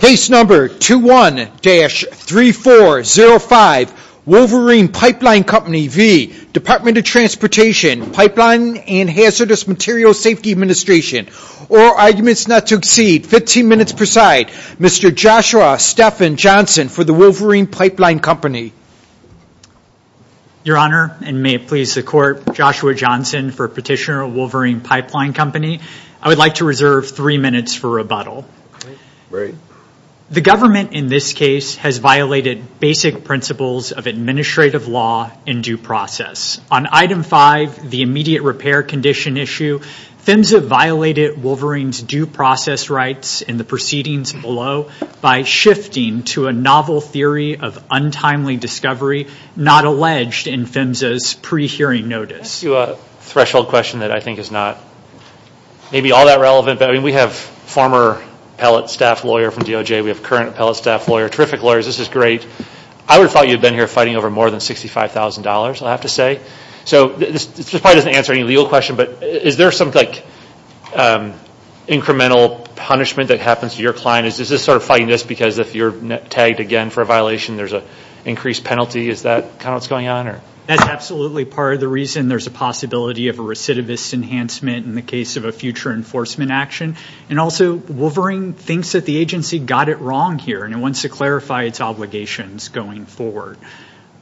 Case number 21-3405, Wolverine Pipe Line Company v. Department of Transportation, Pipeline and Hazardous Materials Safety Administration. All arguments not to exceed 15 minutes per side. Mr. Joshua Stephan Johnson for the Wolverine Pipe Line Company. Your Honor, and may it please the Court, Joshua Johnson for petitioner of Wolverine Pipe Line Company. I would like to reserve three minutes for rebuttal. Great. The government in this case has violated basic principles of administrative law and due process. On item five, the immediate repair condition issue, PHMSA violated Wolverine's due process rights in the proceedings below by shifting to a novel theory of untimely discovery not alleged in PHMSA's pre-hearing notice. Let me ask you a threshold question that I think is not maybe all that relevant. We have former appellate staff lawyer from DOJ. We have current appellate staff lawyer. Terrific lawyers. This is great. I would have thought you'd been here fighting over more than $65,000, I'll have to say. This probably doesn't answer any legal question, but is there some incremental punishment that happens to your client? Is this sort of fighting this because if you're tagged again for a violation, there's an increased penalty? Is that kind of what's going on? That's absolutely part of the reason. There's a possibility of a recidivist enhancement in the case of a future enforcement action. Also, Wolverine thinks that the agency got it wrong here, and it wants to clarify its obligations going forward.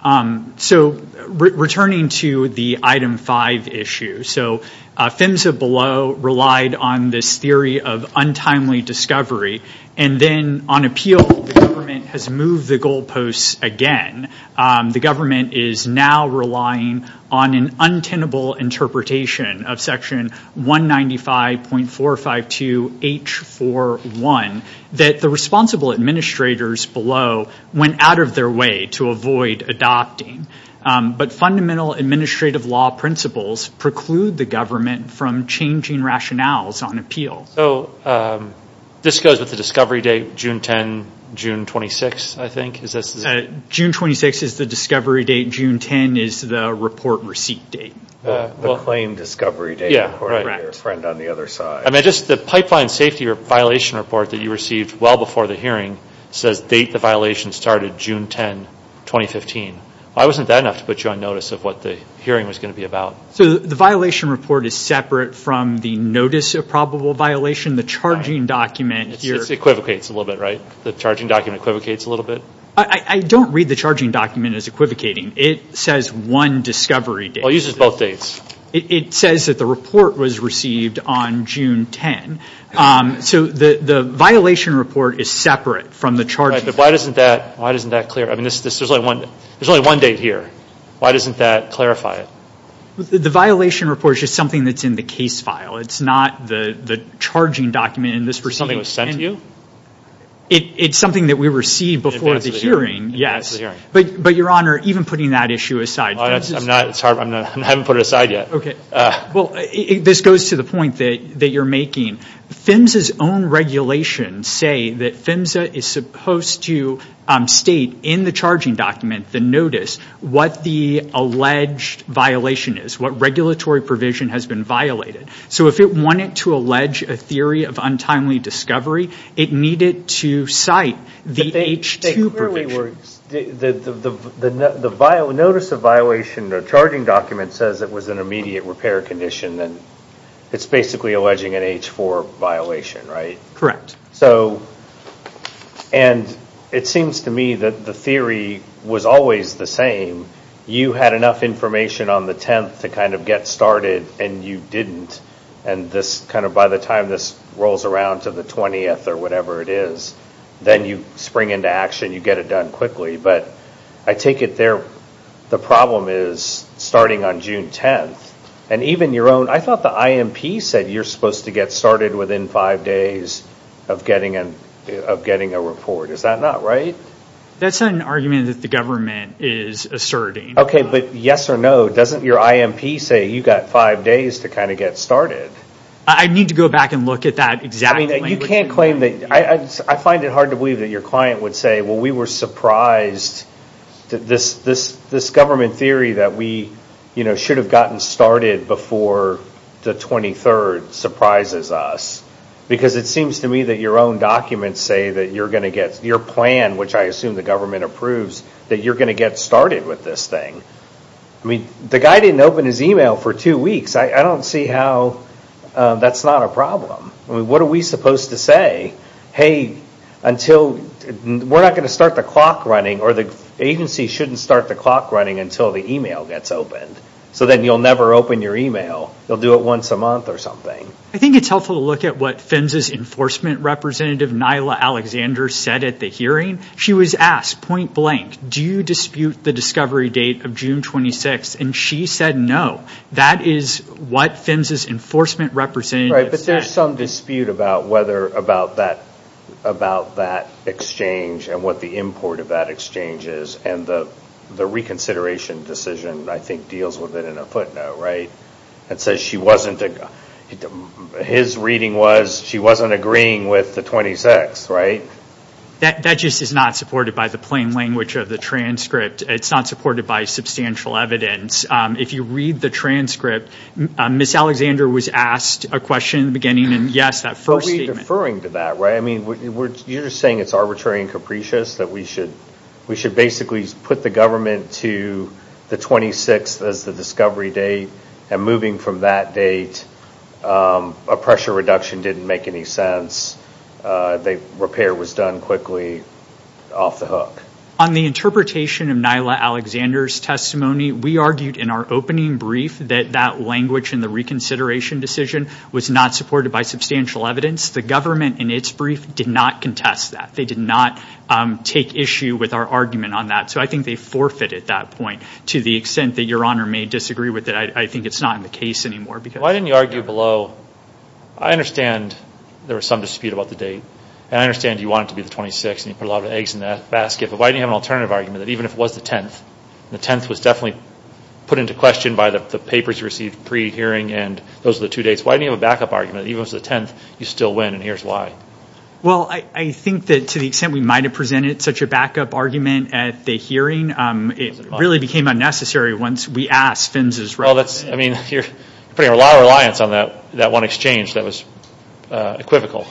Returning to the item five issue, PHMSA below relied on this theory of untimely discovery. Then on appeal, the government has moved the goalposts again. The government is now relying on an untenable interpretation of section 195.452H41 that the responsible administrators below went out of their way to avoid adopting. But fundamental administrative law principles preclude the government from changing rationales on appeals. This goes with the discovery date, June 10, June 26, I think? June 26 is the discovery date. June 10 is the report receipt date. The claim discovery date, according to your friend on the other side. The pipeline safety violation report that you received well before the hearing says the date the violation started, June 10, 2015. Why wasn't that enough to put you on notice of what the hearing was going to be about? The violation report is separate from the notice of probable violation. It equivocates a little bit, right? The charging document equivocates a little bit? I don't read the charging document as equivocating. It says one discovery date. It uses both dates. It says that the report was received on June 10. So the violation report is separate from the charging. Right, but why doesn't that clear? There's only one date here. Why doesn't that clarify it? The violation report is just something that's in the case file. It's not the charging document in this receipt. Something that was sent to you? It's something that we received before the hearing. In advance of the hearing. Yes, but Your Honor, even putting that issue aside. I haven't put it aside yet. Okay, well, this goes to the point that you're making. PHMSA's own regulations say that PHMSA is supposed to state in the charging document, the notice, what the alleged violation is, what regulatory provision has been violated. So if it wanted to allege a theory of untimely discovery, it needed to cite the H2 provision. The notice of violation, the charging document says it was an immediate repair condition. It's basically alleging an H4 violation, right? Correct. And it seems to me that the theory was always the same. You had enough information on the 10th to kind of get started, and you didn't. And by the time this rolls around to the 20th or whatever it is, then you spring into action. You get it done quickly. But I take it there, the problem is starting on June 10th. I thought the IMP said you're supposed to get started within five days of getting a report. Is that not right? That's an argument that the government is asserting. Okay, but yes or no, doesn't your IMP say you've got five days to kind of get started? I need to go back and look at that exactly. You can't claim that. I find it hard to believe that your client would say, well, we were surprised that this government theory that we should have gotten started before the 23rd surprises us. Because it seems to me that your own documents say that you're going to get your plan, which I assume the government approves, that you're going to get started with this thing. I mean, the guy didn't open his email for two weeks. I don't see how that's not a problem. I mean, what are we supposed to say? Hey, we're not going to start the clock running, or the agency shouldn't start the clock running until the email gets opened. So then you'll never open your email. You'll do it once a month or something. I think it's helpful to look at what PHMSA's enforcement representative, Nyla Alexander, said at the hearing. She was asked point blank, do you dispute the discovery date of June 26th? And she said no. That is what PHMSA's enforcement representative said. Right, but there's some dispute about that exchange and what the import of that exchange is. And the reconsideration decision, I think, deals with it in a footnote, right? It says she wasn't, his reading was she wasn't agreeing with the 26th, right? That just is not supported by the plain language of the transcript. It's not supported by substantial evidence. If you read the transcript, Ms. Alexander was asked a question in the beginning, and yes, that first statement. But we're deferring to that, right? I mean, you're just saying it's arbitrary and capricious that we should basically put the government to the 26th as the discovery date. And moving from that date, a pressure reduction didn't make any sense. The repair was done quickly, off the hook. On the interpretation of Nyla Alexander's testimony, we argued in our opening brief that that language in the reconsideration decision was not supported by substantial evidence. The government, in its brief, did not contest that. They did not take issue with our argument on that. So I think they forfeited that point to the extent that Your Honor may disagree with it. I think it's not in the case anymore. Why didn't you argue below? I understand there was some dispute about the date. And I understand you want it to be the 26th, and you put a lot of eggs in that basket. But why didn't you have an alternative argument that even if it was the 10th, the 10th was definitely put into question by the papers you received pre-hearing, and those were the two dates. Why didn't you have a backup argument that even if it was the 10th, you'd still win, and here's why? Well, I think that to the extent we might have presented such a backup argument at the hearing, it really became unnecessary once we asked Finns' representative. I mean, you're putting a lot of reliance on that one exchange that was equivocal.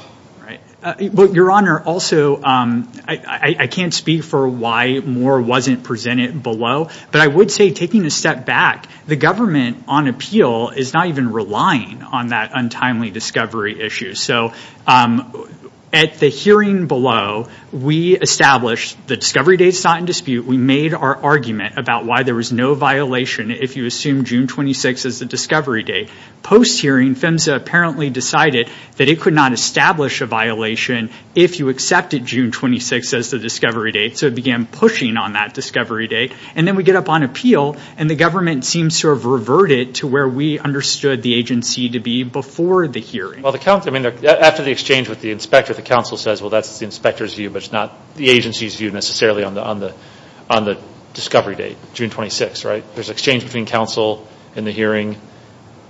Your Honor, also, I can't speak for why Moore wasn't presented below, but I would say taking a step back, the government on appeal is not even relying on that untimely discovery issue. So at the hearing below, we established the discovery date's not in dispute. We made our argument about why there was no violation if you assume June 26th is the discovery date. Post-hearing, PHMSA apparently decided that it could not establish a violation if you accepted June 26th as the discovery date, so it began pushing on that discovery date. And then we get up on appeal, and the government seems to have reverted to where we understood the agency to be before the hearing. Well, after the exchange with the inspector, the counsel says, well, that's the inspector's view, but it's not the agency's view necessarily on the discovery date, June 26th, right? There's exchange between counsel in the hearing,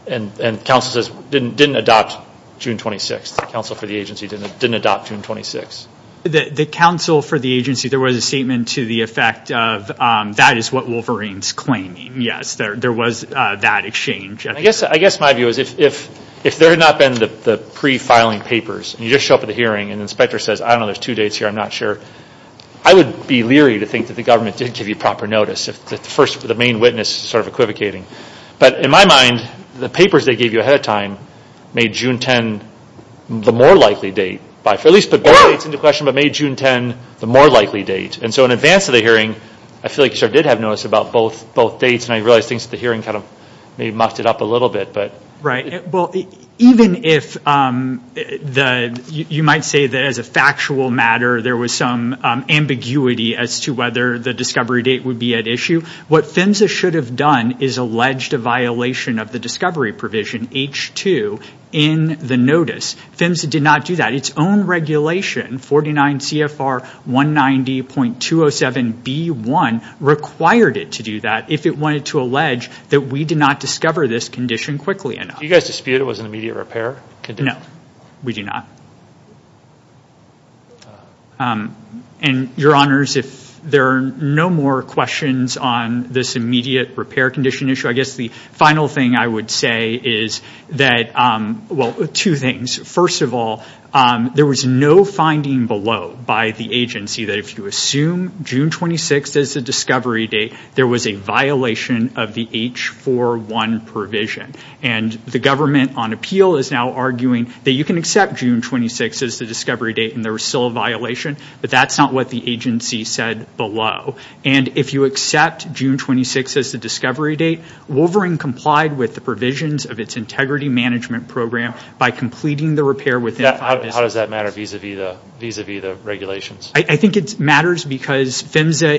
and counsel says, didn't adopt June 26th. Counsel for the agency didn't adopt June 26th. The counsel for the agency, there was a statement to the effect of that is what Wolverine's claiming. Yes, there was that exchange. I guess my view is if there had not been the pre-filing papers, and you just show up at the hearing, and the inspector says, I don't know, there's two dates here, I'm not sure, I would be leery to think that the government did give you proper notice, if the main witness is sort of equivocating. But in my mind, the papers they gave you ahead of time made June 10 the more likely date, at least put both dates into question, but made June 10 the more likely date. And so in advance of the hearing, I feel like you sort of did have notice about both dates, and I realize things at the hearing kind of maybe mucked it up a little bit. Right. Well, even if you might say that as a factual matter, there was some ambiguity as to whether the discovery date would be at issue, what PHMSA should have done is alleged a violation of the discovery provision, H2, in the notice. PHMSA did not do that. Its own regulation, 49 CFR 190.207B1, required it to do that, if it wanted to allege that we did not discover this condition quickly enough. Do you guys dispute it was an immediate repair condition? No, we do not. And, Your Honors, if there are no more questions on this immediate repair condition issue, I guess the final thing I would say is that, well, two things. First of all, there was no finding below by the agency that if you assume June 26 is the discovery date, there was a violation of the H41 provision. And the government on appeal is now arguing that you can accept June 26 as the discovery date, and there was still a violation, but that's not what the agency said below. And if you accept June 26 as the discovery date, Wolverine complied with the provisions of its integrity management program by completing the repair within five days. How does that matter vis-a-vis the regulations? I think it matters because PHMSA,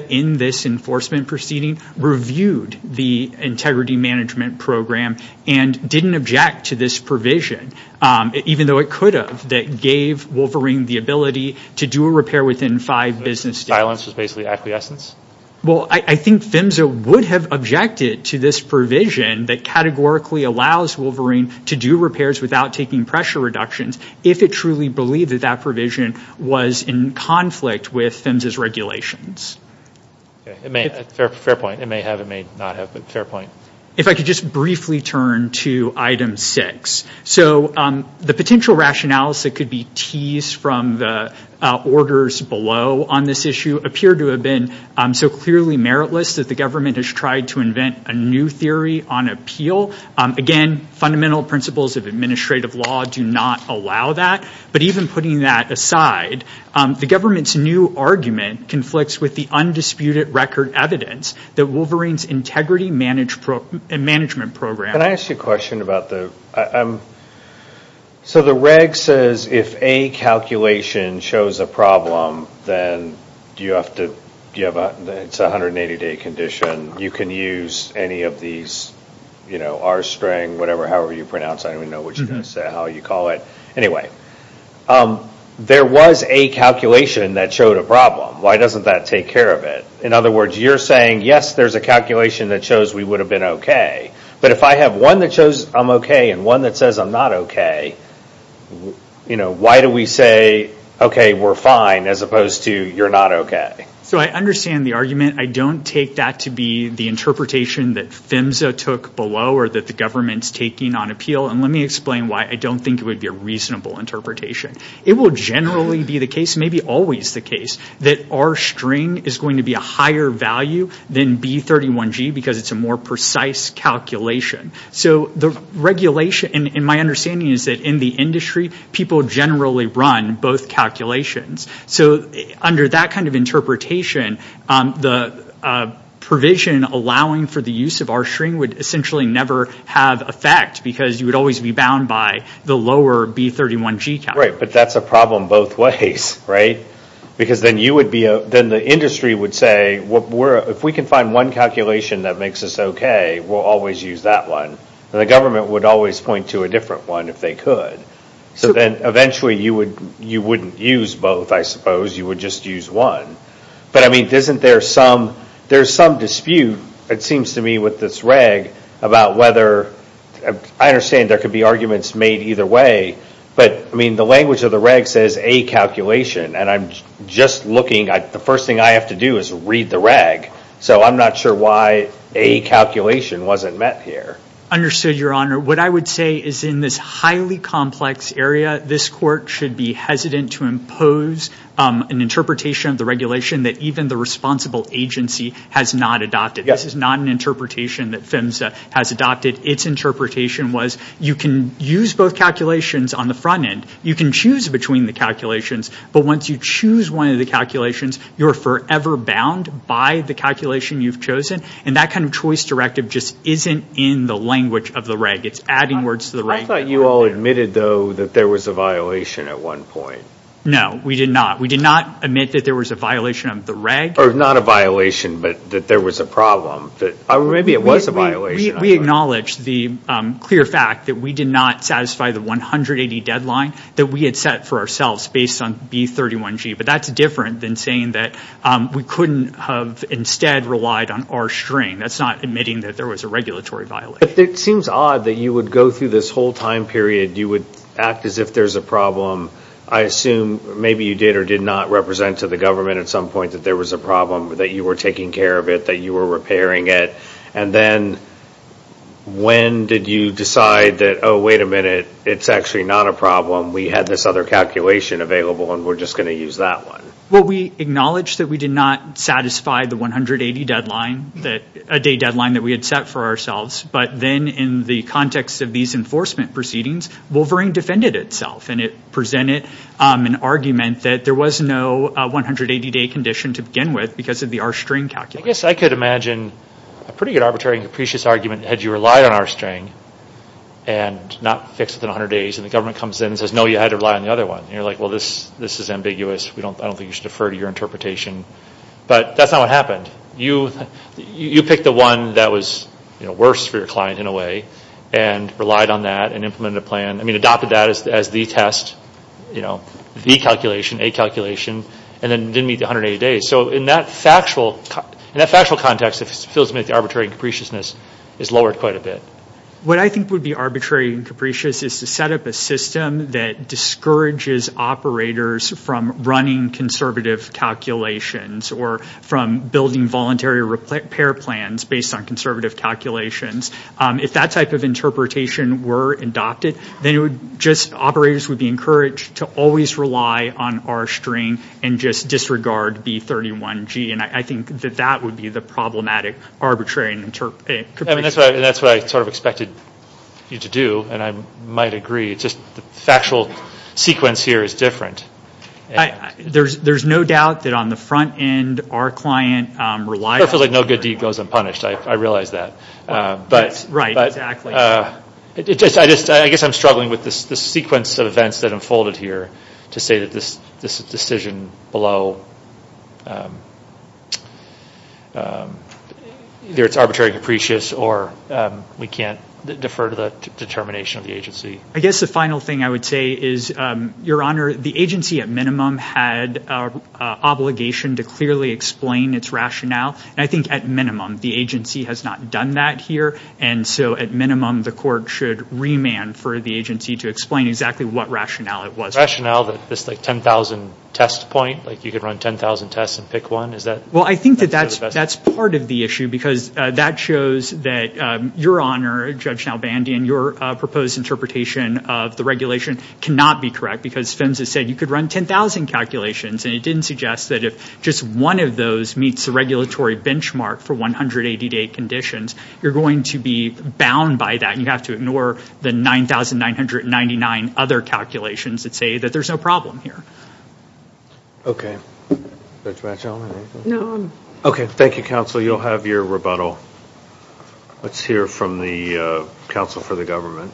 in this enforcement proceeding, reviewed the integrity management program and didn't object to this provision, even though it could have, that gave Wolverine the ability to do a repair within five business days. So this silence was basically acquiescence? Well, I think PHMSA would have objected to this provision that categorically allows Wolverine to do repairs without taking pressure reductions if it truly believed that that provision was in conflict with PHMSA's regulations. Fair point. It may have, it may not have, but fair point. If I could just briefly turn to item six. So the potential rationales that could be teased from the orders below on this issue appear to have been so clearly meritless that the government has tried to invent a new theory on appeal. Again, fundamental principles of administrative law do not allow that, but even putting that aside, the government's new argument conflicts with the undisputed record evidence that Wolverine's integrity management program Can I ask you a question about the, so the reg says if a calculation shows a problem, then do you have to, it's a 180 day condition, you can use any of these, you know, R string, whatever, however you pronounce, I don't even know what you guys say, how you call it. Anyway, there was a calculation that showed a problem. Why doesn't that take care of it? In other words, you're saying, yes, there's a calculation that shows we would have been okay, but if I have one that shows I'm okay and one that says I'm not okay, you know, why do we say, okay, we're fine, as opposed to you're not okay? So I understand the argument. I don't take that to be the interpretation that PHMSA took below or that the government's taking on appeal, and let me explain why I don't think it would be a reasonable interpretation. It will generally be the case, maybe always the case, that R string is going to be a higher value than B31G because it's a more precise calculation. So the regulation, and my understanding is that in the industry, people generally run both calculations. So under that kind of interpretation, the provision allowing for the use of R string would essentially never have effect because you would always be bound by the lower B31G calculation. Right, but that's a problem both ways, right? Because then you would be, then the industry would say, if we can find one calculation that makes us okay, we'll always use that one. The government would always point to a different one if they could. So then eventually you wouldn't use both, I suppose. You would just use one. But, I mean, isn't there some, there's some dispute, it seems to me, with this reg about whether, I understand there could be arguments made either way, but, I mean, the language of the reg says A calculation, and I'm just looking, the first thing I have to do is read the reg. So I'm not sure why A calculation wasn't met here. Understood, Your Honor. What I would say is in this highly complex area, this court should be hesitant to impose an interpretation of the regulation that even the responsible agency has not adopted. This is not an interpretation that PHMSA has adopted. Its interpretation was you can use both calculations on the front end, you can choose between the calculations, but once you choose one of the calculations, you're forever bound by the calculation you've chosen, and that kind of choice directive just isn't in the language of the reg. It's adding words to the reg. I thought you all admitted, though, that there was a violation at one point. No, we did not. We did not admit that there was a violation of the reg. Or not a violation, but that there was a problem. Or maybe it was a violation. We acknowledge the clear fact that we did not satisfy the 180 deadline that we had set for ourselves based on B31G, but that's different than saying that we couldn't have instead relied on our string. That's not admitting that there was a regulatory violation. But it seems odd that you would go through this whole time period, you would act as if there's a problem. I assume maybe you did or did not represent to the government at some point that there was a problem, that you were taking care of it, that you were repairing it, and then when did you decide that, oh, wait a minute, it's actually not a problem, we had this other calculation available, and we're just going to use that one. Well, we acknowledge that we did not satisfy the 180 deadline, a day deadline that we had set for ourselves, but then in the context of these enforcement proceedings, Wolverine defended itself, and it presented an argument that there was no 180-day condition to begin with because of the R-string calculation. I guess I could imagine a pretty good arbitrary and capricious argument had you relied on R-string and not fixed within 100 days, and the government comes in and says, no, you had to rely on the other one. And you're like, well, this is ambiguous. I don't think you should defer to your interpretation. But that's not what happened. You picked the one that was worse for your client in a way and relied on that and implemented a plan. I mean, adopted that as the test, the calculation, a calculation, and then didn't meet the 180 days. So in that factual context, it feels to me like the arbitrary and capriciousness is lowered quite a bit. What I think would be arbitrary and capricious is to set up a system that discourages operators from running conservative calculations or from building voluntary repair plans based on conservative calculations. If that type of interpretation were adopted, then operators would be encouraged to always rely on R-string and just disregard B31G. And I think that that would be the problematic arbitrary and capriciousness. And that's what I sort of expected you to do, and I might agree. It's just the factual sequence here is different. There's no doubt that on the front end, our client relied on it. Perfectly no good deed goes unpunished. I realize that. Right, exactly. I guess I'm struggling with this sequence of events that unfolded here to say that this decision below, either it's arbitrary and capricious or we can't defer to the determination of the agency. I guess the final thing I would say is, Your Honor, the agency at minimum had an obligation to clearly explain its rationale, and I think at minimum the agency has not done that here, and so at minimum the court should remand for the agency to explain exactly what rationale it was for. Is there a rationale that this 10,000 test point, like you could run 10,000 tests and pick one? Well, I think that that's part of the issue because that shows that Your Honor, Judge Nalbandian, your proposed interpretation of the regulation cannot be correct because PHMSA said you could run 10,000 calculations, and it didn't suggest that if just one of those meets the regulatory benchmark for 180-day conditions, you're going to be bound by that and you have to ignore the 9,999 other calculations that say that there's no problem here. Okay. Judge Machelman, anything? No. Okay. Thank you, counsel. You'll have your rebuttal. Let's hear from the counsel for the government.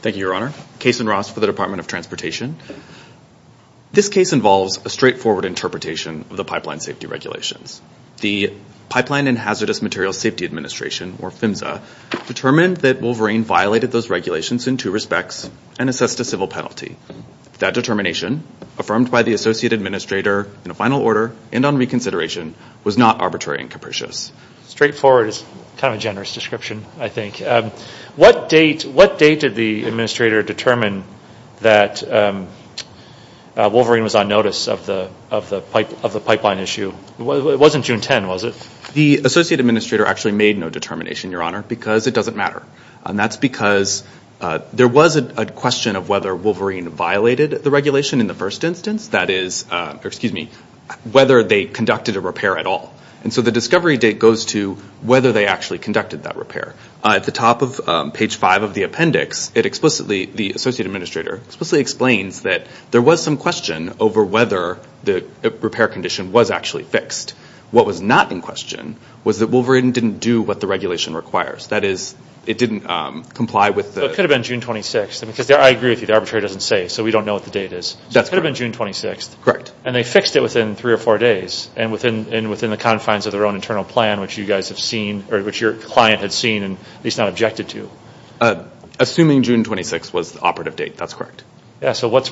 Thank you, Your Honor. Case in Ross for the Department of Transportation. This case involves a straightforward interpretation of the pipeline safety regulations. The Pipeline and Hazardous Materials Safety Administration, or PHMSA, determined that Wolverine violated those regulations in two respects and assessed a civil penalty. That determination, affirmed by the associate administrator in a final order and on reconsideration, was not arbitrary and capricious. Straightforward is kind of a generous description, I think. What date did the administrator determine that Wolverine was on notice of the pipeline issue? It wasn't June 10, was it? The associate administrator actually made no determination, Your Honor, because it doesn't matter. That's because there was a question of whether Wolverine violated the regulation in the first instance, that is, whether they conducted a repair at all. And so the discovery date goes to whether they actually conducted that repair. At the top of page 5 of the appendix, the associate administrator explicitly explains that there was some question over whether the repair condition was actually fixed. What was not in question was that Wolverine didn't do what the regulation requires, that is, it didn't comply with the... It could have been June 26, because I agree with you, the arbitrary doesn't say, so we don't know what the date is. That's right. It could have been June 26. Correct. And they fixed it within three or four days and within the confines of their own internal plan, which you guys have seen, or which your client had seen and at least not objected to. Assuming June 26 was the operative date, that's correct. Yeah, so what's...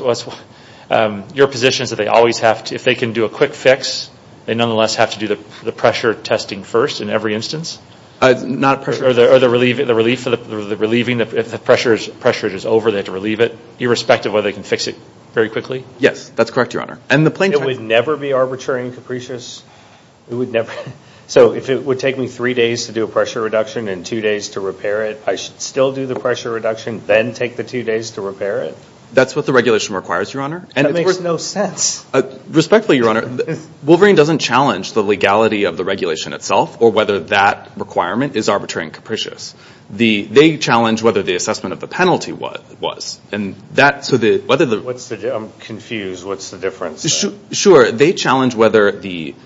Your position is that they always have to, if they can do a quick fix, they nonetheless have to do the pressure testing first in every instance? Not pressure... Or the relieving, if the pressure is over, they have to relieve it, irrespective of whether they can fix it very quickly? Yes, that's correct, Your Honor. It would never be arbitrary and capricious? It would never? So if it would take me three days to do a pressure reduction and two days to repair it, I should still do the pressure reduction, then take the two days to repair it? That's what the regulation requires, Your Honor. That makes no sense. Respectfully, Your Honor, Wolverine doesn't challenge the legality of the regulation itself or whether that requirement is arbitrary and capricious. They challenge whether the assessment of the penalty was. I'm confused. What's the difference? Sure. They challenge whether the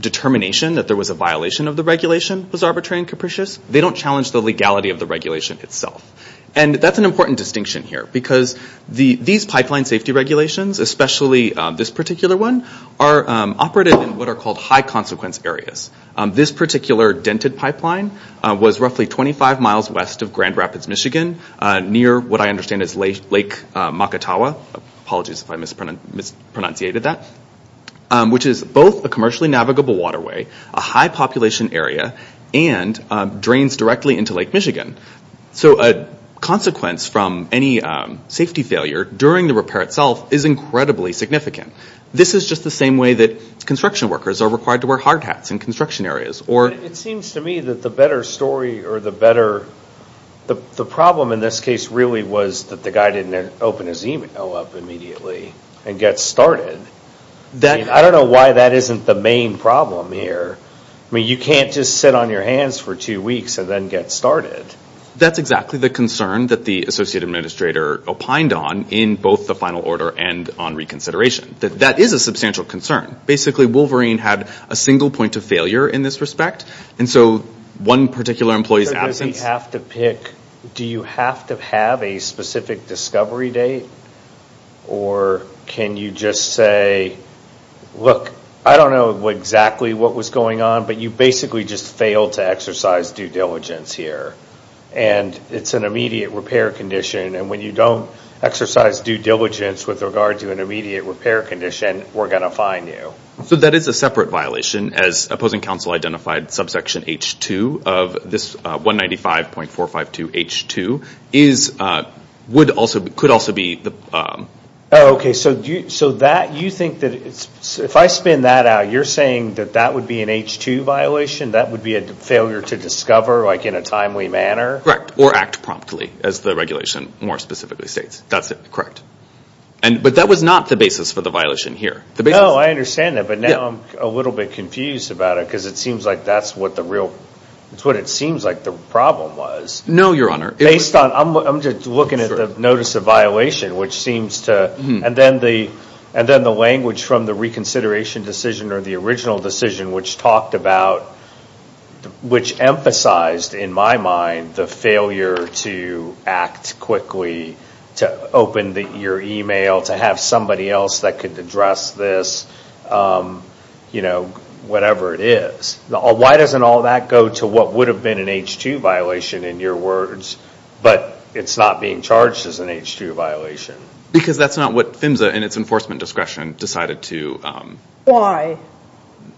determination that there was a violation of the regulation was arbitrary and capricious. They don't challenge the legality of the regulation itself. And that's an important distinction here because these pipeline safety regulations, especially this particular one, are operated in what are called high consequence areas. This particular dented pipeline was roughly 25 miles west of Grand Rapids, Michigan, near what I understand is Lake Makatawa. Apologies if I mispronunciated that, which is both a commercially navigable waterway, a high population area, and drains directly into Lake Michigan. So a consequence from any safety failure during the repair itself is incredibly significant. This is just the same way that construction workers are required to wear hard hats in construction areas. It seems to me that the better story or the better, the problem in this case really was that the guy didn't open his email up immediately and get started. I don't know why that isn't the main problem here. I mean, you can't just sit on your hands for two weeks and then get started. That's exactly the concern that the associate administrator opined on in both the final order and on reconsideration. That is a substantial concern. Basically, Wolverine had a single point of failure in this respect. So one particular employee's absence... Do you have to have a specific discovery date? Or can you just say, look, I don't know exactly what was going on, but you basically just failed to exercise due diligence here. It's an immediate repair condition. When you don't exercise due diligence with regard to an immediate repair condition, we're going to fine you. So that is a separate violation. As opposing counsel identified, subsection H2 of this 195.452H2 could also be... Oh, okay. So you think that if I spin that out, you're saying that that would be an H2 violation? That would be a failure to discover in a timely manner? Correct, or act promptly, as the regulation more specifically states. That's correct. But that was not the basis for the violation here. No, I understand that, but now I'm a little bit confused about it because it seems like that's what the real... It's what it seems like the problem was. No, Your Honor. I'm just looking at the notice of violation, which seems to... And then the language from the reconsideration decision or the original decision, which talked about... Which emphasized, in my mind, the failure to act quickly, to open your email, to have somebody else that could address this, whatever it is. Why doesn't all that go to what would have been an H2 violation, in your words, but it's not being charged as an H2 violation? Because that's not what PHMSA, in its enforcement discretion, decided to... Why?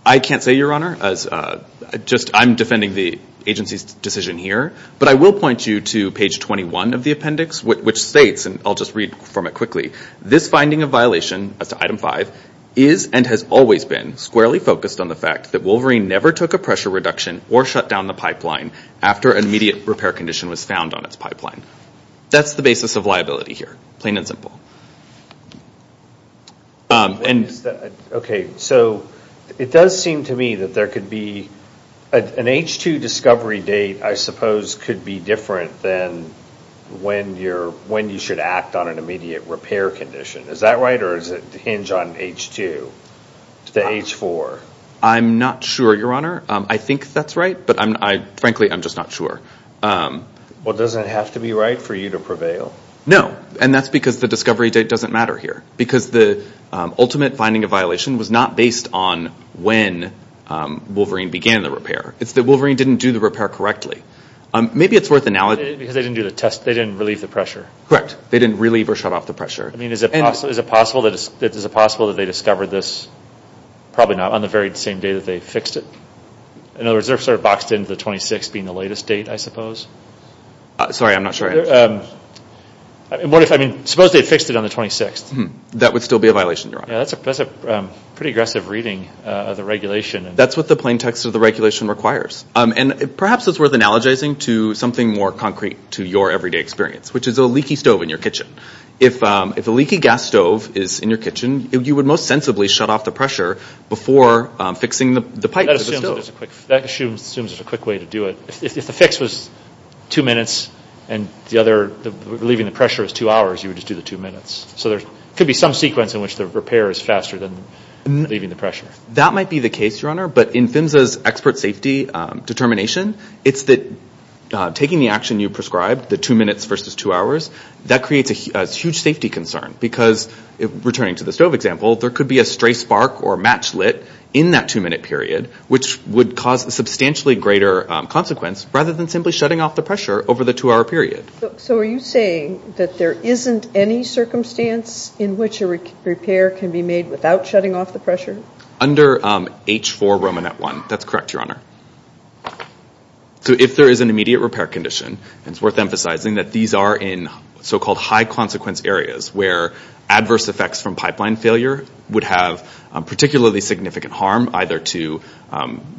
I can't say, Your Honor. I'm defending the agency's decision here, but I will point you to page 21 of the appendix, which states, and I'll just read from it quickly, this finding of violation as to item 5 is and has always been squarely focused on the fact that Wolverine never took a pressure reduction or shut down the pipeline after an immediate repair condition was found on its pipeline. That's the basis of liability here, plain and simple. Okay, so it does seem to me that there could be an H2 discovery date, I suppose, could be different than when you should act on an immediate repair condition. Is that right, or does it hinge on H2 to H4? I'm not sure, Your Honor. I think that's right, but frankly, I'm just not sure. Well, does it have to be right for you to prevail? No, and that's because the discovery date doesn't matter here because the ultimate finding of violation was not based on when Wolverine began the repair. It's that Wolverine didn't do the repair correctly. Maybe it's worth analyzing. Because they didn't do the test. They didn't relieve the pressure. Correct. They didn't relieve or shut off the pressure. I mean, is it possible that they discovered this? Probably not on the very same day that they fixed it. In other words, they're sort of boxed in to the 26th being the latest date, I suppose. Sorry, I'm not sure. I mean, suppose they had fixed it on the 26th. That would still be a violation, Your Honor. That's a pretty aggressive reading of the regulation. That's what the plain text of the regulation requires. And perhaps it's worth analogizing to something more concrete to your everyday experience, which is a leaky stove in your kitchen. If a leaky gas stove is in your kitchen, you would most sensibly shut off the pressure before fixing the pipe to the stove. That assumes there's a quick way to do it. If the fix was two minutes and the other relieving the pressure is two hours, you would just do the two minutes. So there could be some sequence in which the repair is faster than relieving the pressure. That might be the case, Your Honor. But in PHMSA's expert safety determination, it's that taking the action you prescribed, the two minutes versus two hours, that creates a huge safety concern. Because, returning to the stove example, there could be a stray spark or match lit in that two-minute period, which would cause a substantially greater consequence rather than simply shutting off the pressure over the two-hour period. So are you saying that there isn't any circumstance in which a repair can be made without shutting off the pressure? Under H4 Romanet 1. That's correct, Your Honor. So if there is an immediate repair condition, it's worth emphasizing that these are in so-called high-consequence areas where adverse effects from pipeline failure would have particularly significant harm either to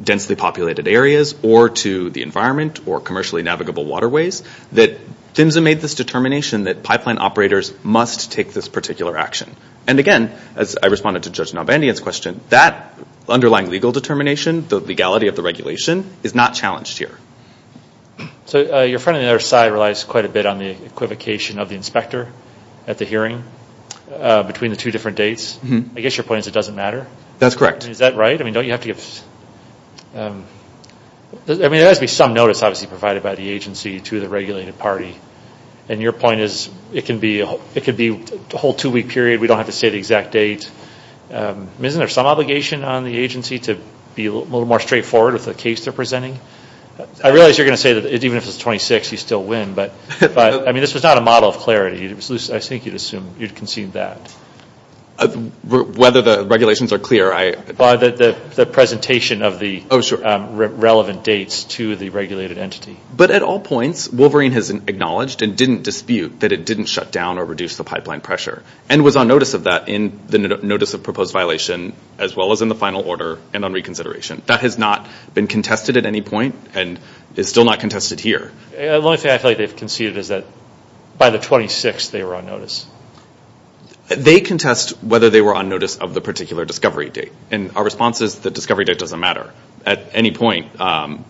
densely populated areas or to the environment or commercially navigable waterways, that PHMSA made this determination that pipeline operators must take this particular action. And again, as I responded to Judge Nalbandian's question, that underlying legal determination, the legality of the regulation, is not challenged here. So your friend on the other side relies quite a bit on the equivocation of the inspector at the hearing between the two different dates. I guess your point is it doesn't matter? That's correct. Is that right? I mean, there has to be some notice obviously provided by the agency to the regulated party. And your point is it could be a whole two-week period. We don't have to say the exact date. Isn't there some obligation on the agency to be a little more straightforward with the case they're presenting? I realize you're going to say that even if it's 26, you still win. But, I mean, this was not a model of clarity. I think you'd assume you'd concede that. Whether the regulations are clear. The presentation of the relevant dates to the regulated entity. But at all points, Wolverine has acknowledged and didn't dispute that it didn't shut down or reduce the pipeline pressure and was on notice of that in the notice of proposed violation as well as in the final order and on reconsideration. That has not been contested at any point and is still not contested here. The only thing I feel like they've conceded is that by the 26th they were on notice. They contest whether they were on notice of the particular discovery date. Our response is the discovery date doesn't matter. At any point, and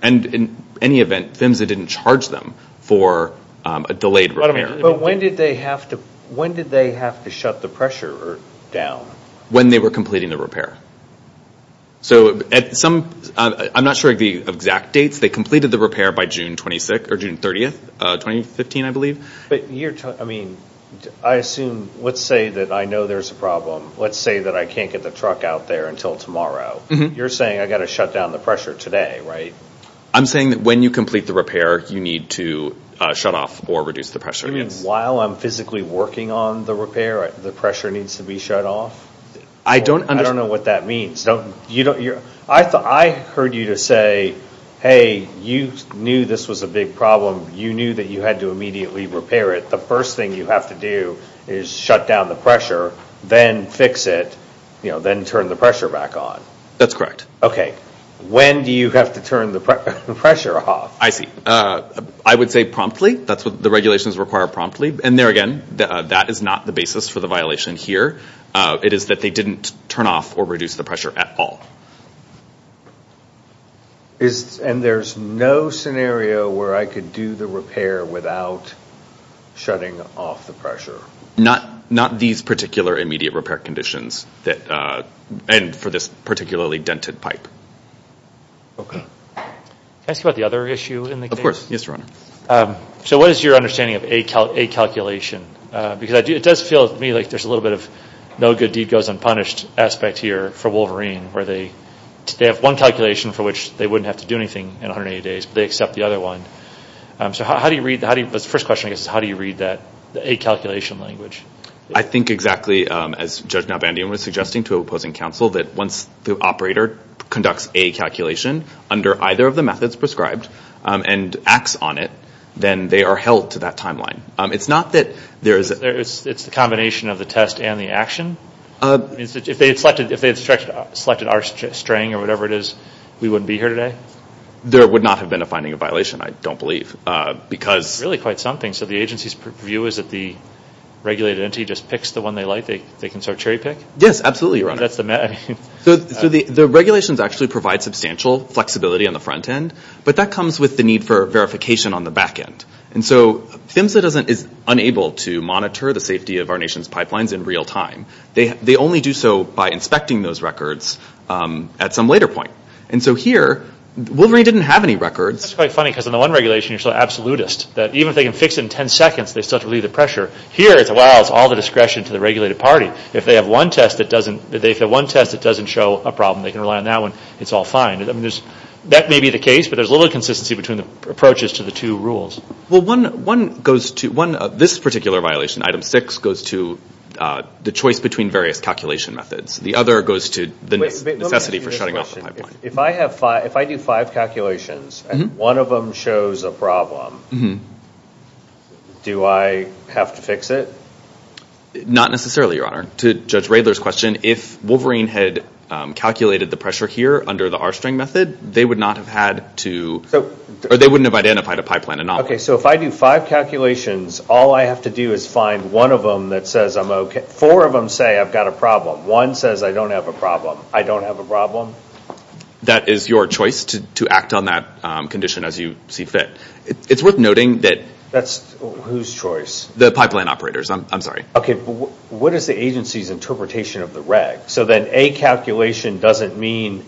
in any event, PHMSA didn't charge them for a delayed repair. But when did they have to shut the pressure down? When they were completing the repair. I'm not sure of the exact dates. They completed the repair by June 30, 2015, I believe. I assume, let's say that I know there's a problem. Let's say that I can't get the truck out there until tomorrow. You're saying I've got to shut down the pressure today, right? I'm saying that when you complete the repair, you need to shut off or reduce the pressure. You mean while I'm physically working on the repair, the pressure needs to be shut off? I don't understand. I don't know what that means. I heard you say, hey, you knew this was a big problem. You knew that you had to immediately repair it. The first thing you have to do is shut down the pressure, then fix it, then turn the pressure back on. That's correct. Okay. When do you have to turn the pressure off? I see. I would say promptly. That's what the regulations require, promptly. And there again, that is not the basis for the violation here. It is that they didn't turn off or reduce the pressure at all. And there's no scenario where I could do the repair without shutting off the pressure? Not these particular immediate repair conditions and for this particularly dented pipe. Okay. Can I ask you about the other issue in the case? Of course. Yes, Your Honor. So what is your understanding of a calculation? Because it does feel to me like there's a little bit of no good deed goes unpunished aspect here for Wolverine where they have one calculation for which they wouldn't have to do anything in 180 days, but they accept the other one. So how do you read that? The first question, I guess, is how do you read that, the A calculation language? I think exactly as Judge Nalbandian was suggesting to opposing counsel, that once the operator conducts a calculation under either of the methods prescribed and acts on it, then they are held to that timeline. It's not that there is a – It's the combination of the test and the action? If they had selected our string or whatever it is, we wouldn't be here today? There would not have been a finding of violation, I don't believe. Really quite something. So the agency's view is that the regulated entity just picks the one they like? They can sort of cherry pick? Yes, absolutely, Your Honor. So the regulations actually provide substantial flexibility on the front end, but that comes with the need for verification on the back end. And so PHMSA is unable to monitor the safety of our nation's pipelines in real time. They only do so by inspecting those records at some later point. And so here, Wolverine didn't have any records. That's quite funny because in the one regulation you're so absolutist that even if they can fix it in 10 seconds, they still have to relieve the pressure. Here it's, wow, it's all the discretion to the regulated party. If they have one test that doesn't show a problem, they can rely on that one, it's all fine. That may be the case, but there's a little inconsistency between the approaches to the two rules. Well, this particular violation, Item 6, goes to the choice between various calculation methods. The other goes to the necessity for shutting off the pipeline. If I do five calculations and one of them shows a problem, do I have to fix it? Not necessarily, Your Honor. To Judge Radler's question, if Wolverine had calculated the pressure here under the R-string method, they would not have had to, or they wouldn't have identified a pipeline anomaly. Okay, so if I do five calculations, all I have to do is find one of them that says I'm okay. Four of them say I've got a problem. One says I don't have a problem. I don't have a problem? That is your choice to act on that condition as you see fit. It's worth noting that… That's whose choice? The pipeline operators. I'm sorry. Okay, but what is the agency's interpretation of the reg? So then A calculation doesn't mean…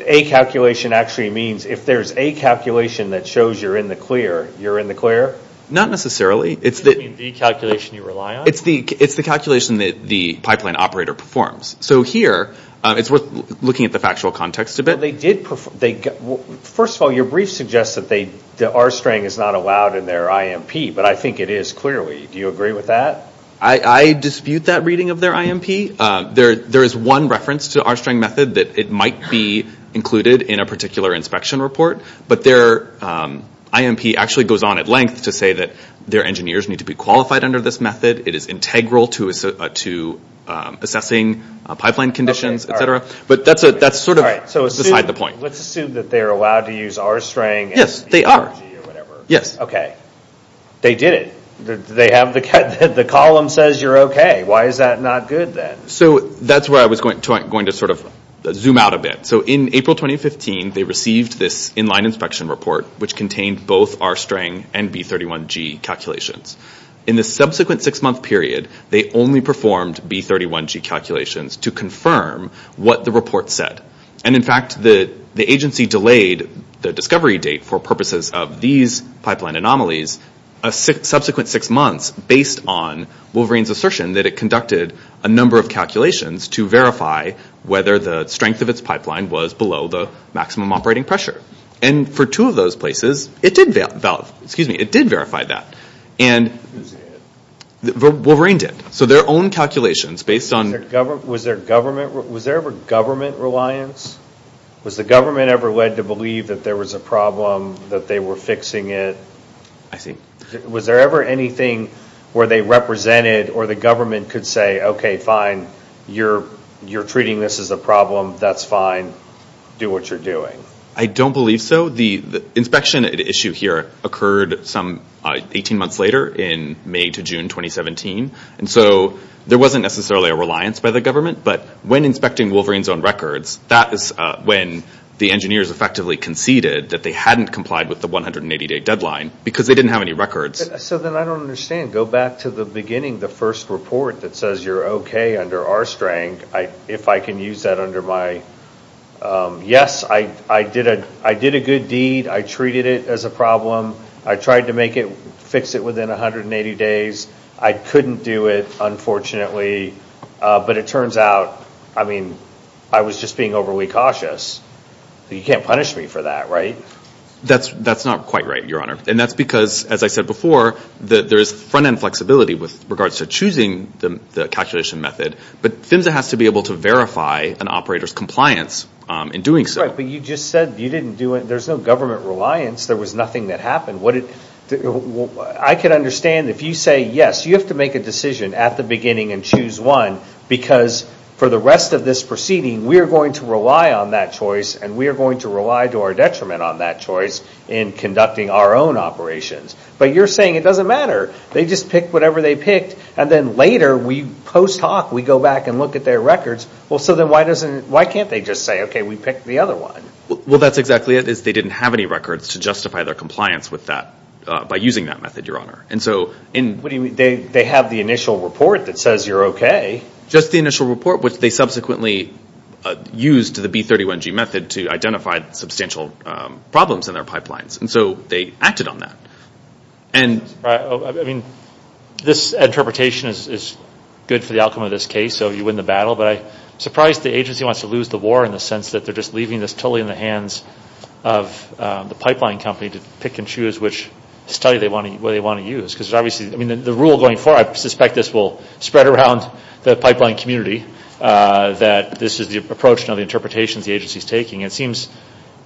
A calculation actually means if there's A calculation that shows you're in the clear, you're in the clear? Not necessarily. Does that mean the calculation you rely on? It's the calculation that the pipeline operator performs. So here, it's worth looking at the factual context a bit. First of all, your brief suggests that the R-string is not allowed in their IMP, but I think it is clearly. Do you agree with that? I dispute that reading of their IMP. There is one reference to R-string method that it might be included in a particular inspection report, but their IMP actually goes on at length to say that their engineers need to be qualified under this method. It is integral to assessing pipeline conditions, et cetera. But that's sort of beside the point. Let's assume that they're allowed to use R-string. Yes, they are. Yes. Okay. They did it. They have the column that says you're okay. Why is that not good then? So that's where I was going to sort of zoom out a bit. So in April 2015, they received this in-line inspection report, which contained both R-string and B31G calculations. In the subsequent six-month period, they only performed B31G calculations to confirm what the report said. And in fact, the agency delayed the discovery date for purposes of these pipeline anomalies a subsequent six months based on Wolverine's assertion that it conducted a number of calculations to verify whether the strength of its pipeline was below the maximum operating pressure. And for two of those places, it did verify that. Wolverine did. So their own calculations based on... Was there ever government reliance? Was the government ever led to believe that there was a problem, that they were fixing it? I see. Was there ever anything where they represented or the government could say, okay, fine, you're treating this as a problem, that's fine, do what you're doing? I don't believe so. The inspection at issue here occurred some 18 months later in May to June 2017. And so there wasn't necessarily a reliance by the government. But when inspecting Wolverine's own records, that is when the engineers effectively conceded that they hadn't complied with the 180-day deadline because they didn't have any records. So then I don't understand. Go back to the beginning, the first report that says you're okay under R-string. If I can use that under my... Yes, I did a good deed. I treated it as a problem. I tried to fix it within 180 days. I couldn't do it, unfortunately. But it turns out, I mean, I was just being overly cautious. You can't punish me for that, right? That's not quite right, Your Honor. And that's because, as I said before, there is front-end flexibility with regards to choosing the calculation method. But PHMSA has to be able to verify an operator's compliance in doing so. But you just said you didn't do it. There's no government reliance. There was nothing that happened. I can understand if you say, yes, you have to make a decision at the beginning and choose one because for the rest of this proceeding, we are going to rely on that choice and we are going to rely to our detriment on that choice in conducting our own operations. But you're saying it doesn't matter. They just picked whatever they picked. And then later, post hoc, we go back and look at their records. So then why can't they just say, okay, we picked the other one? Well, that's exactly it, is they didn't have any records to justify their compliance with that by using that method, Your Honor. They have the initial report that says you're okay. Just the initial report, which they subsequently used the B31G method to identify substantial problems in their pipelines. And so they acted on that. This interpretation is good for the outcome of this case, so you win the battle. But I'm surprised the agency wants to lose the war in the sense that they're just leaving this totally in the hands of the pipeline company to pick and choose which study they want to use. The rule going forward, I suspect this will spread around the pipeline community, that this is the approach and the interpretations the agency is taking. It seems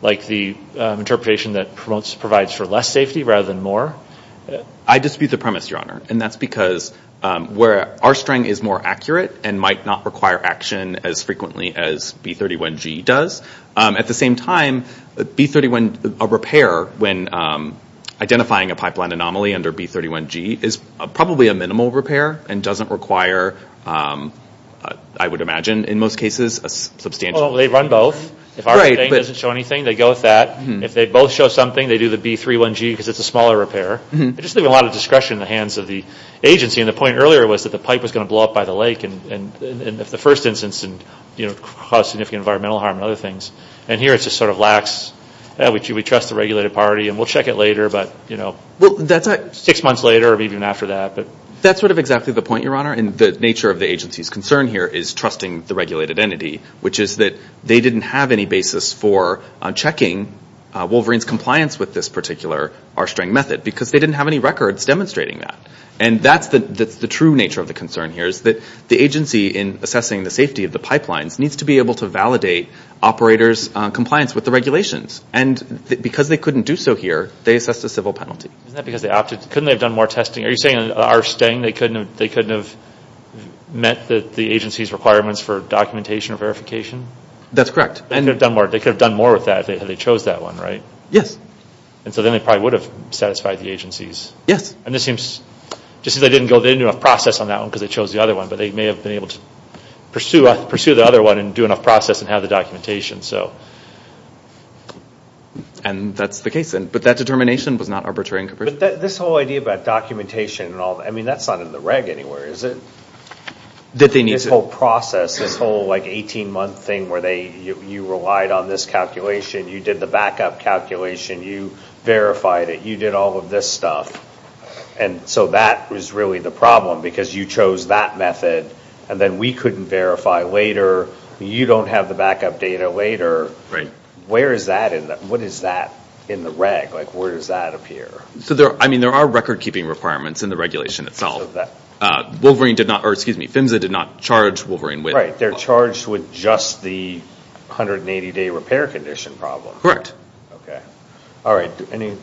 like the interpretation that provides for less safety rather than more. I dispute the premise, Your Honor, and that's because our string is more accurate and might not require action as frequently as B31G does. At the same time, a repair when identifying a pipeline anomaly under B31G is probably a minimal repair and doesn't require, I would imagine in most cases, a substantial repair. Well, they run both. If our thing doesn't show anything, they go with that. If they both show something, they do the B31G because it's a smaller repair. They just leave a lot of discretion in the hands of the agency. And the point earlier was that the pipe was going to blow up by the lake and in the first instance cause significant environmental harm and other things. And here it's just sort of lax. We trust the regulated party and we'll check it later, six months later or even after that. That's sort of exactly the point, Your Honor, and the nature of the agency's concern here is trusting the regulated entity, which is that they didn't have any basis for checking Wolverine's compliance with this particular R-String method because they didn't have any records demonstrating that. And that's the true nature of the concern here is that the agency, in assessing the safety of the pipelines, needs to be able to validate operators' compliance with the regulations. And because they couldn't do so here, they assessed a civil penalty. Isn't that because they opted? Couldn't they have done more testing? Are you saying in R-String they couldn't have met the agency's requirements for documentation or verification? That's correct. And they could have done more with that if they chose that one, right? Yes. And so then they probably would have satisfied the agencies. Yes. And this seems, just because they didn't do enough process on that one because they chose the other one, but they may have been able to pursue the other one and do enough process and have the documentation. And that's the case, but that determination was not arbitrary and capricious. But this whole idea about documentation and all, I mean, that's not in the reg anywhere, is it? That they need to... This whole process, this whole 18-month thing where you relied on this calculation, you did the backup calculation, you verified it, you did all of this stuff. And so that was really the problem because you chose that method, and then we couldn't verify later, you don't have the backup data later. Right. Where is that in the... What is that in the reg? Like, where does that appear? So, I mean, there are record-keeping requirements in the regulation itself. Wolverine did not... Or, excuse me, PHMSA did not charge Wolverine with... Right. They're charged with just the 180-day repair condition problem. Correct. Okay. All right. Any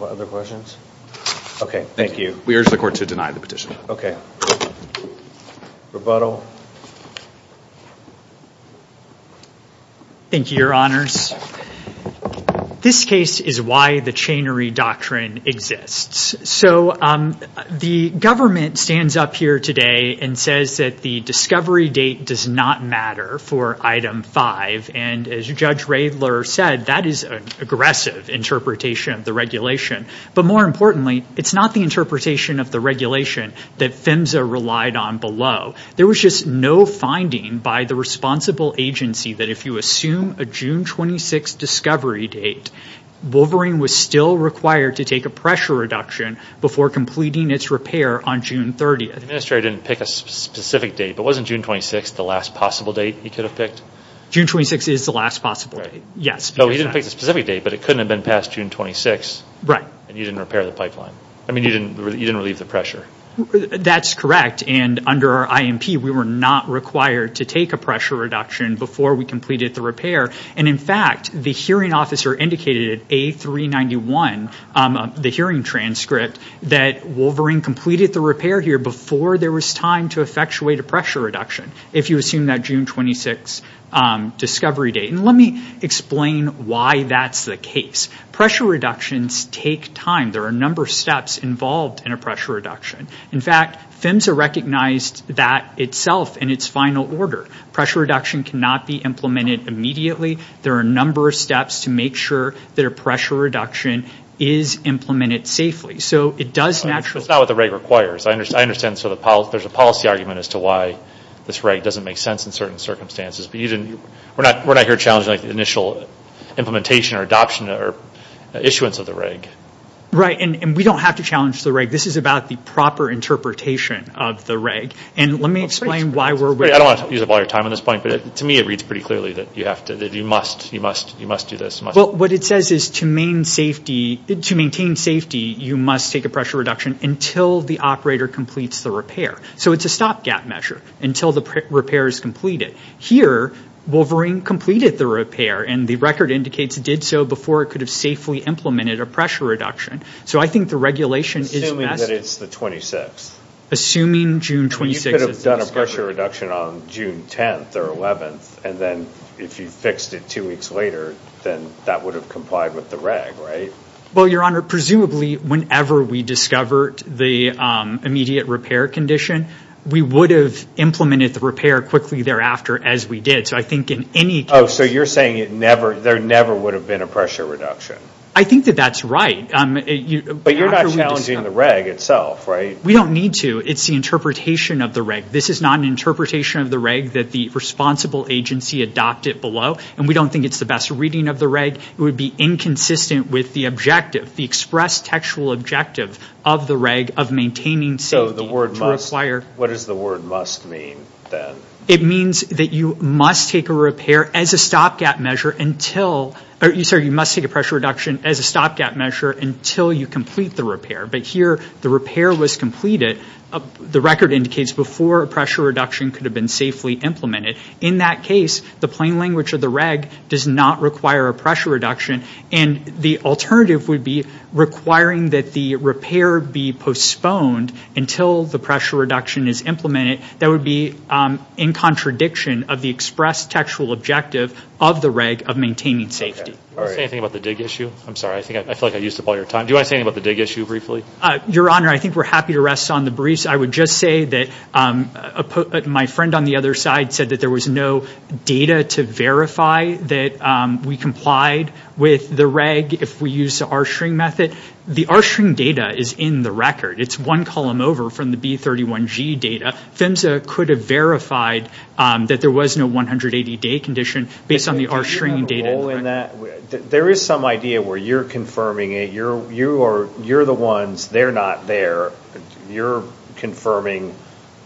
other questions? Okay. Thank you. We urge the court to deny the petition. Okay. Rebuttal. Thank you, Your Honors. This case is why the chainery doctrine exists. So, the government stands up here today and says that the discovery date does not matter for Item 5. And as Judge Radler said, that is an aggressive interpretation of the regulation. But more importantly, it's not the interpretation of the regulation that PHMSA relied on below. There was just no finding by the responsible agency that if you assume a June 26 discovery date, Wolverine was still required to take a pressure reduction before completing its repair on June 30th. The Administrator didn't pick a specific date. But wasn't June 26 the last possible date he could have picked? June 26 is the last possible date. Right. Yes. No, he didn't pick a specific date, but it couldn't have been past June 26. Right. And you didn't repair the pipeline. I mean, you didn't relieve the pressure. That's correct. And under our IMP, we were not required to take a pressure reduction before we completed the repair. And, in fact, the hearing officer indicated at A391, the hearing transcript, that Wolverine completed the repair here before there was time to effectuate a pressure reduction, if you assume that June 26 discovery date. And let me explain why that's the case. Pressure reductions take time. There are a number of steps involved in a pressure reduction. In fact, PHMSA recognized that itself in its final order. Pressure reduction cannot be implemented immediately. There are a number of steps to make sure that a pressure reduction is implemented safely. So it does naturally. That's not what the reg requires. I understand there's a policy argument as to why this reg doesn't make sense in certain circumstances. We're not here challenging the initial implementation or adoption or issuance of the reg. Right. And we don't have to challenge the reg. This is about the proper interpretation of the reg. I don't want to use up all your time on this point, but to me it reads pretty clearly that you must do this. Well, what it says is to maintain safety, you must take a pressure reduction until the operator completes the repair. So it's a stopgap measure until the repair is completed. Here, Wolverine completed the repair, and the record indicates it did so before it could have safely implemented a pressure reduction. So I think the regulation is best. Assuming that it's the 26th. Assuming June 26th is the discovery. You could have done a pressure reduction on June 10th or 11th, and then if you fixed it two weeks later, then that would have complied with the reg, right? Well, Your Honor, presumably whenever we discovered the immediate repair condition, we would have implemented the repair quickly thereafter as we did. So I think in any case. Oh, so you're saying there never would have been a pressure reduction. I think that that's right. But you're not challenging the reg itself, right? We don't need to. It's the interpretation of the reg. This is not an interpretation of the reg that the responsible agency adopted below, and we don't think it's the best reading of the reg. It would be inconsistent with the objective, the express textual objective of the reg of maintaining safety. So the word must. To require. What does the word must mean then? It means that you must take a repair as a stopgap measure until. Sorry, you must take a pressure reduction as a stopgap measure until you complete the repair. But here the repair was completed. The record indicates before a pressure reduction could have been safely implemented. In that case, the plain language of the reg does not require a pressure reduction, and the alternative would be requiring that the repair be postponed until the pressure reduction is implemented. That would be in contradiction of the express textual objective of the reg of maintaining safety. All right. Do you want to say anything about the dig issue? I'm sorry. I feel like I used up all your time. Do you want to say anything about the dig issue briefly? Your Honor, I think we're happy to rest on the briefs. I would just say that my friend on the other side said that there was no data to verify that we complied with the reg if we used the R-string method. The R-string data is in the record. It's one column over from the B31G data. PHMSA could have verified that there was no 180-day condition based on the R-string data. Do you have a role in that? There is some idea where you're confirming it. You're the ones. They're not there. You're confirming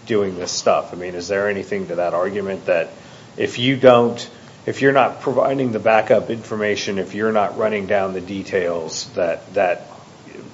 doing this stuff. I mean, is there anything to that argument that if you're not providing the backup information, if you're not running down the details, that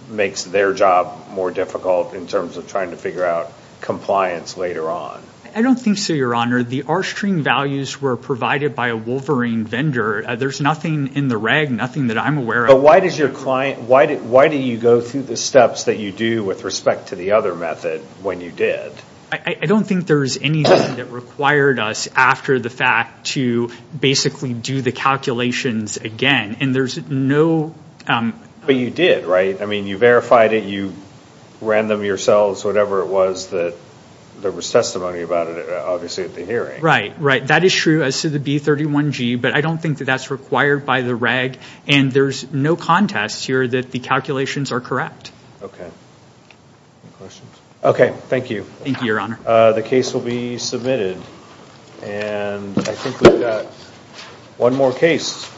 makes their job more difficult in terms of trying to figure out compliance later on? I don't think so, Your Honor. The R-string values were provided by a Wolverine vendor. There's nothing in the reg, nothing that I'm aware of. But why did you go through the steps that you do with respect to the other method when you did? I don't think there's anything that required us, after the fact, to basically do the calculations again. And there's no... But you did, right? I mean, you verified it. You ran them yourselves, whatever it was that there was testimony about it, obviously, at the hearing. Right, right. That is true as to the B31G. But I don't think that that's required by the reg. And there's no contest here that the calculations are correct. Okay. Any questions? Okay, thank you. Thank you, Your Honor. The case will be submitted. And I think we've got one more case.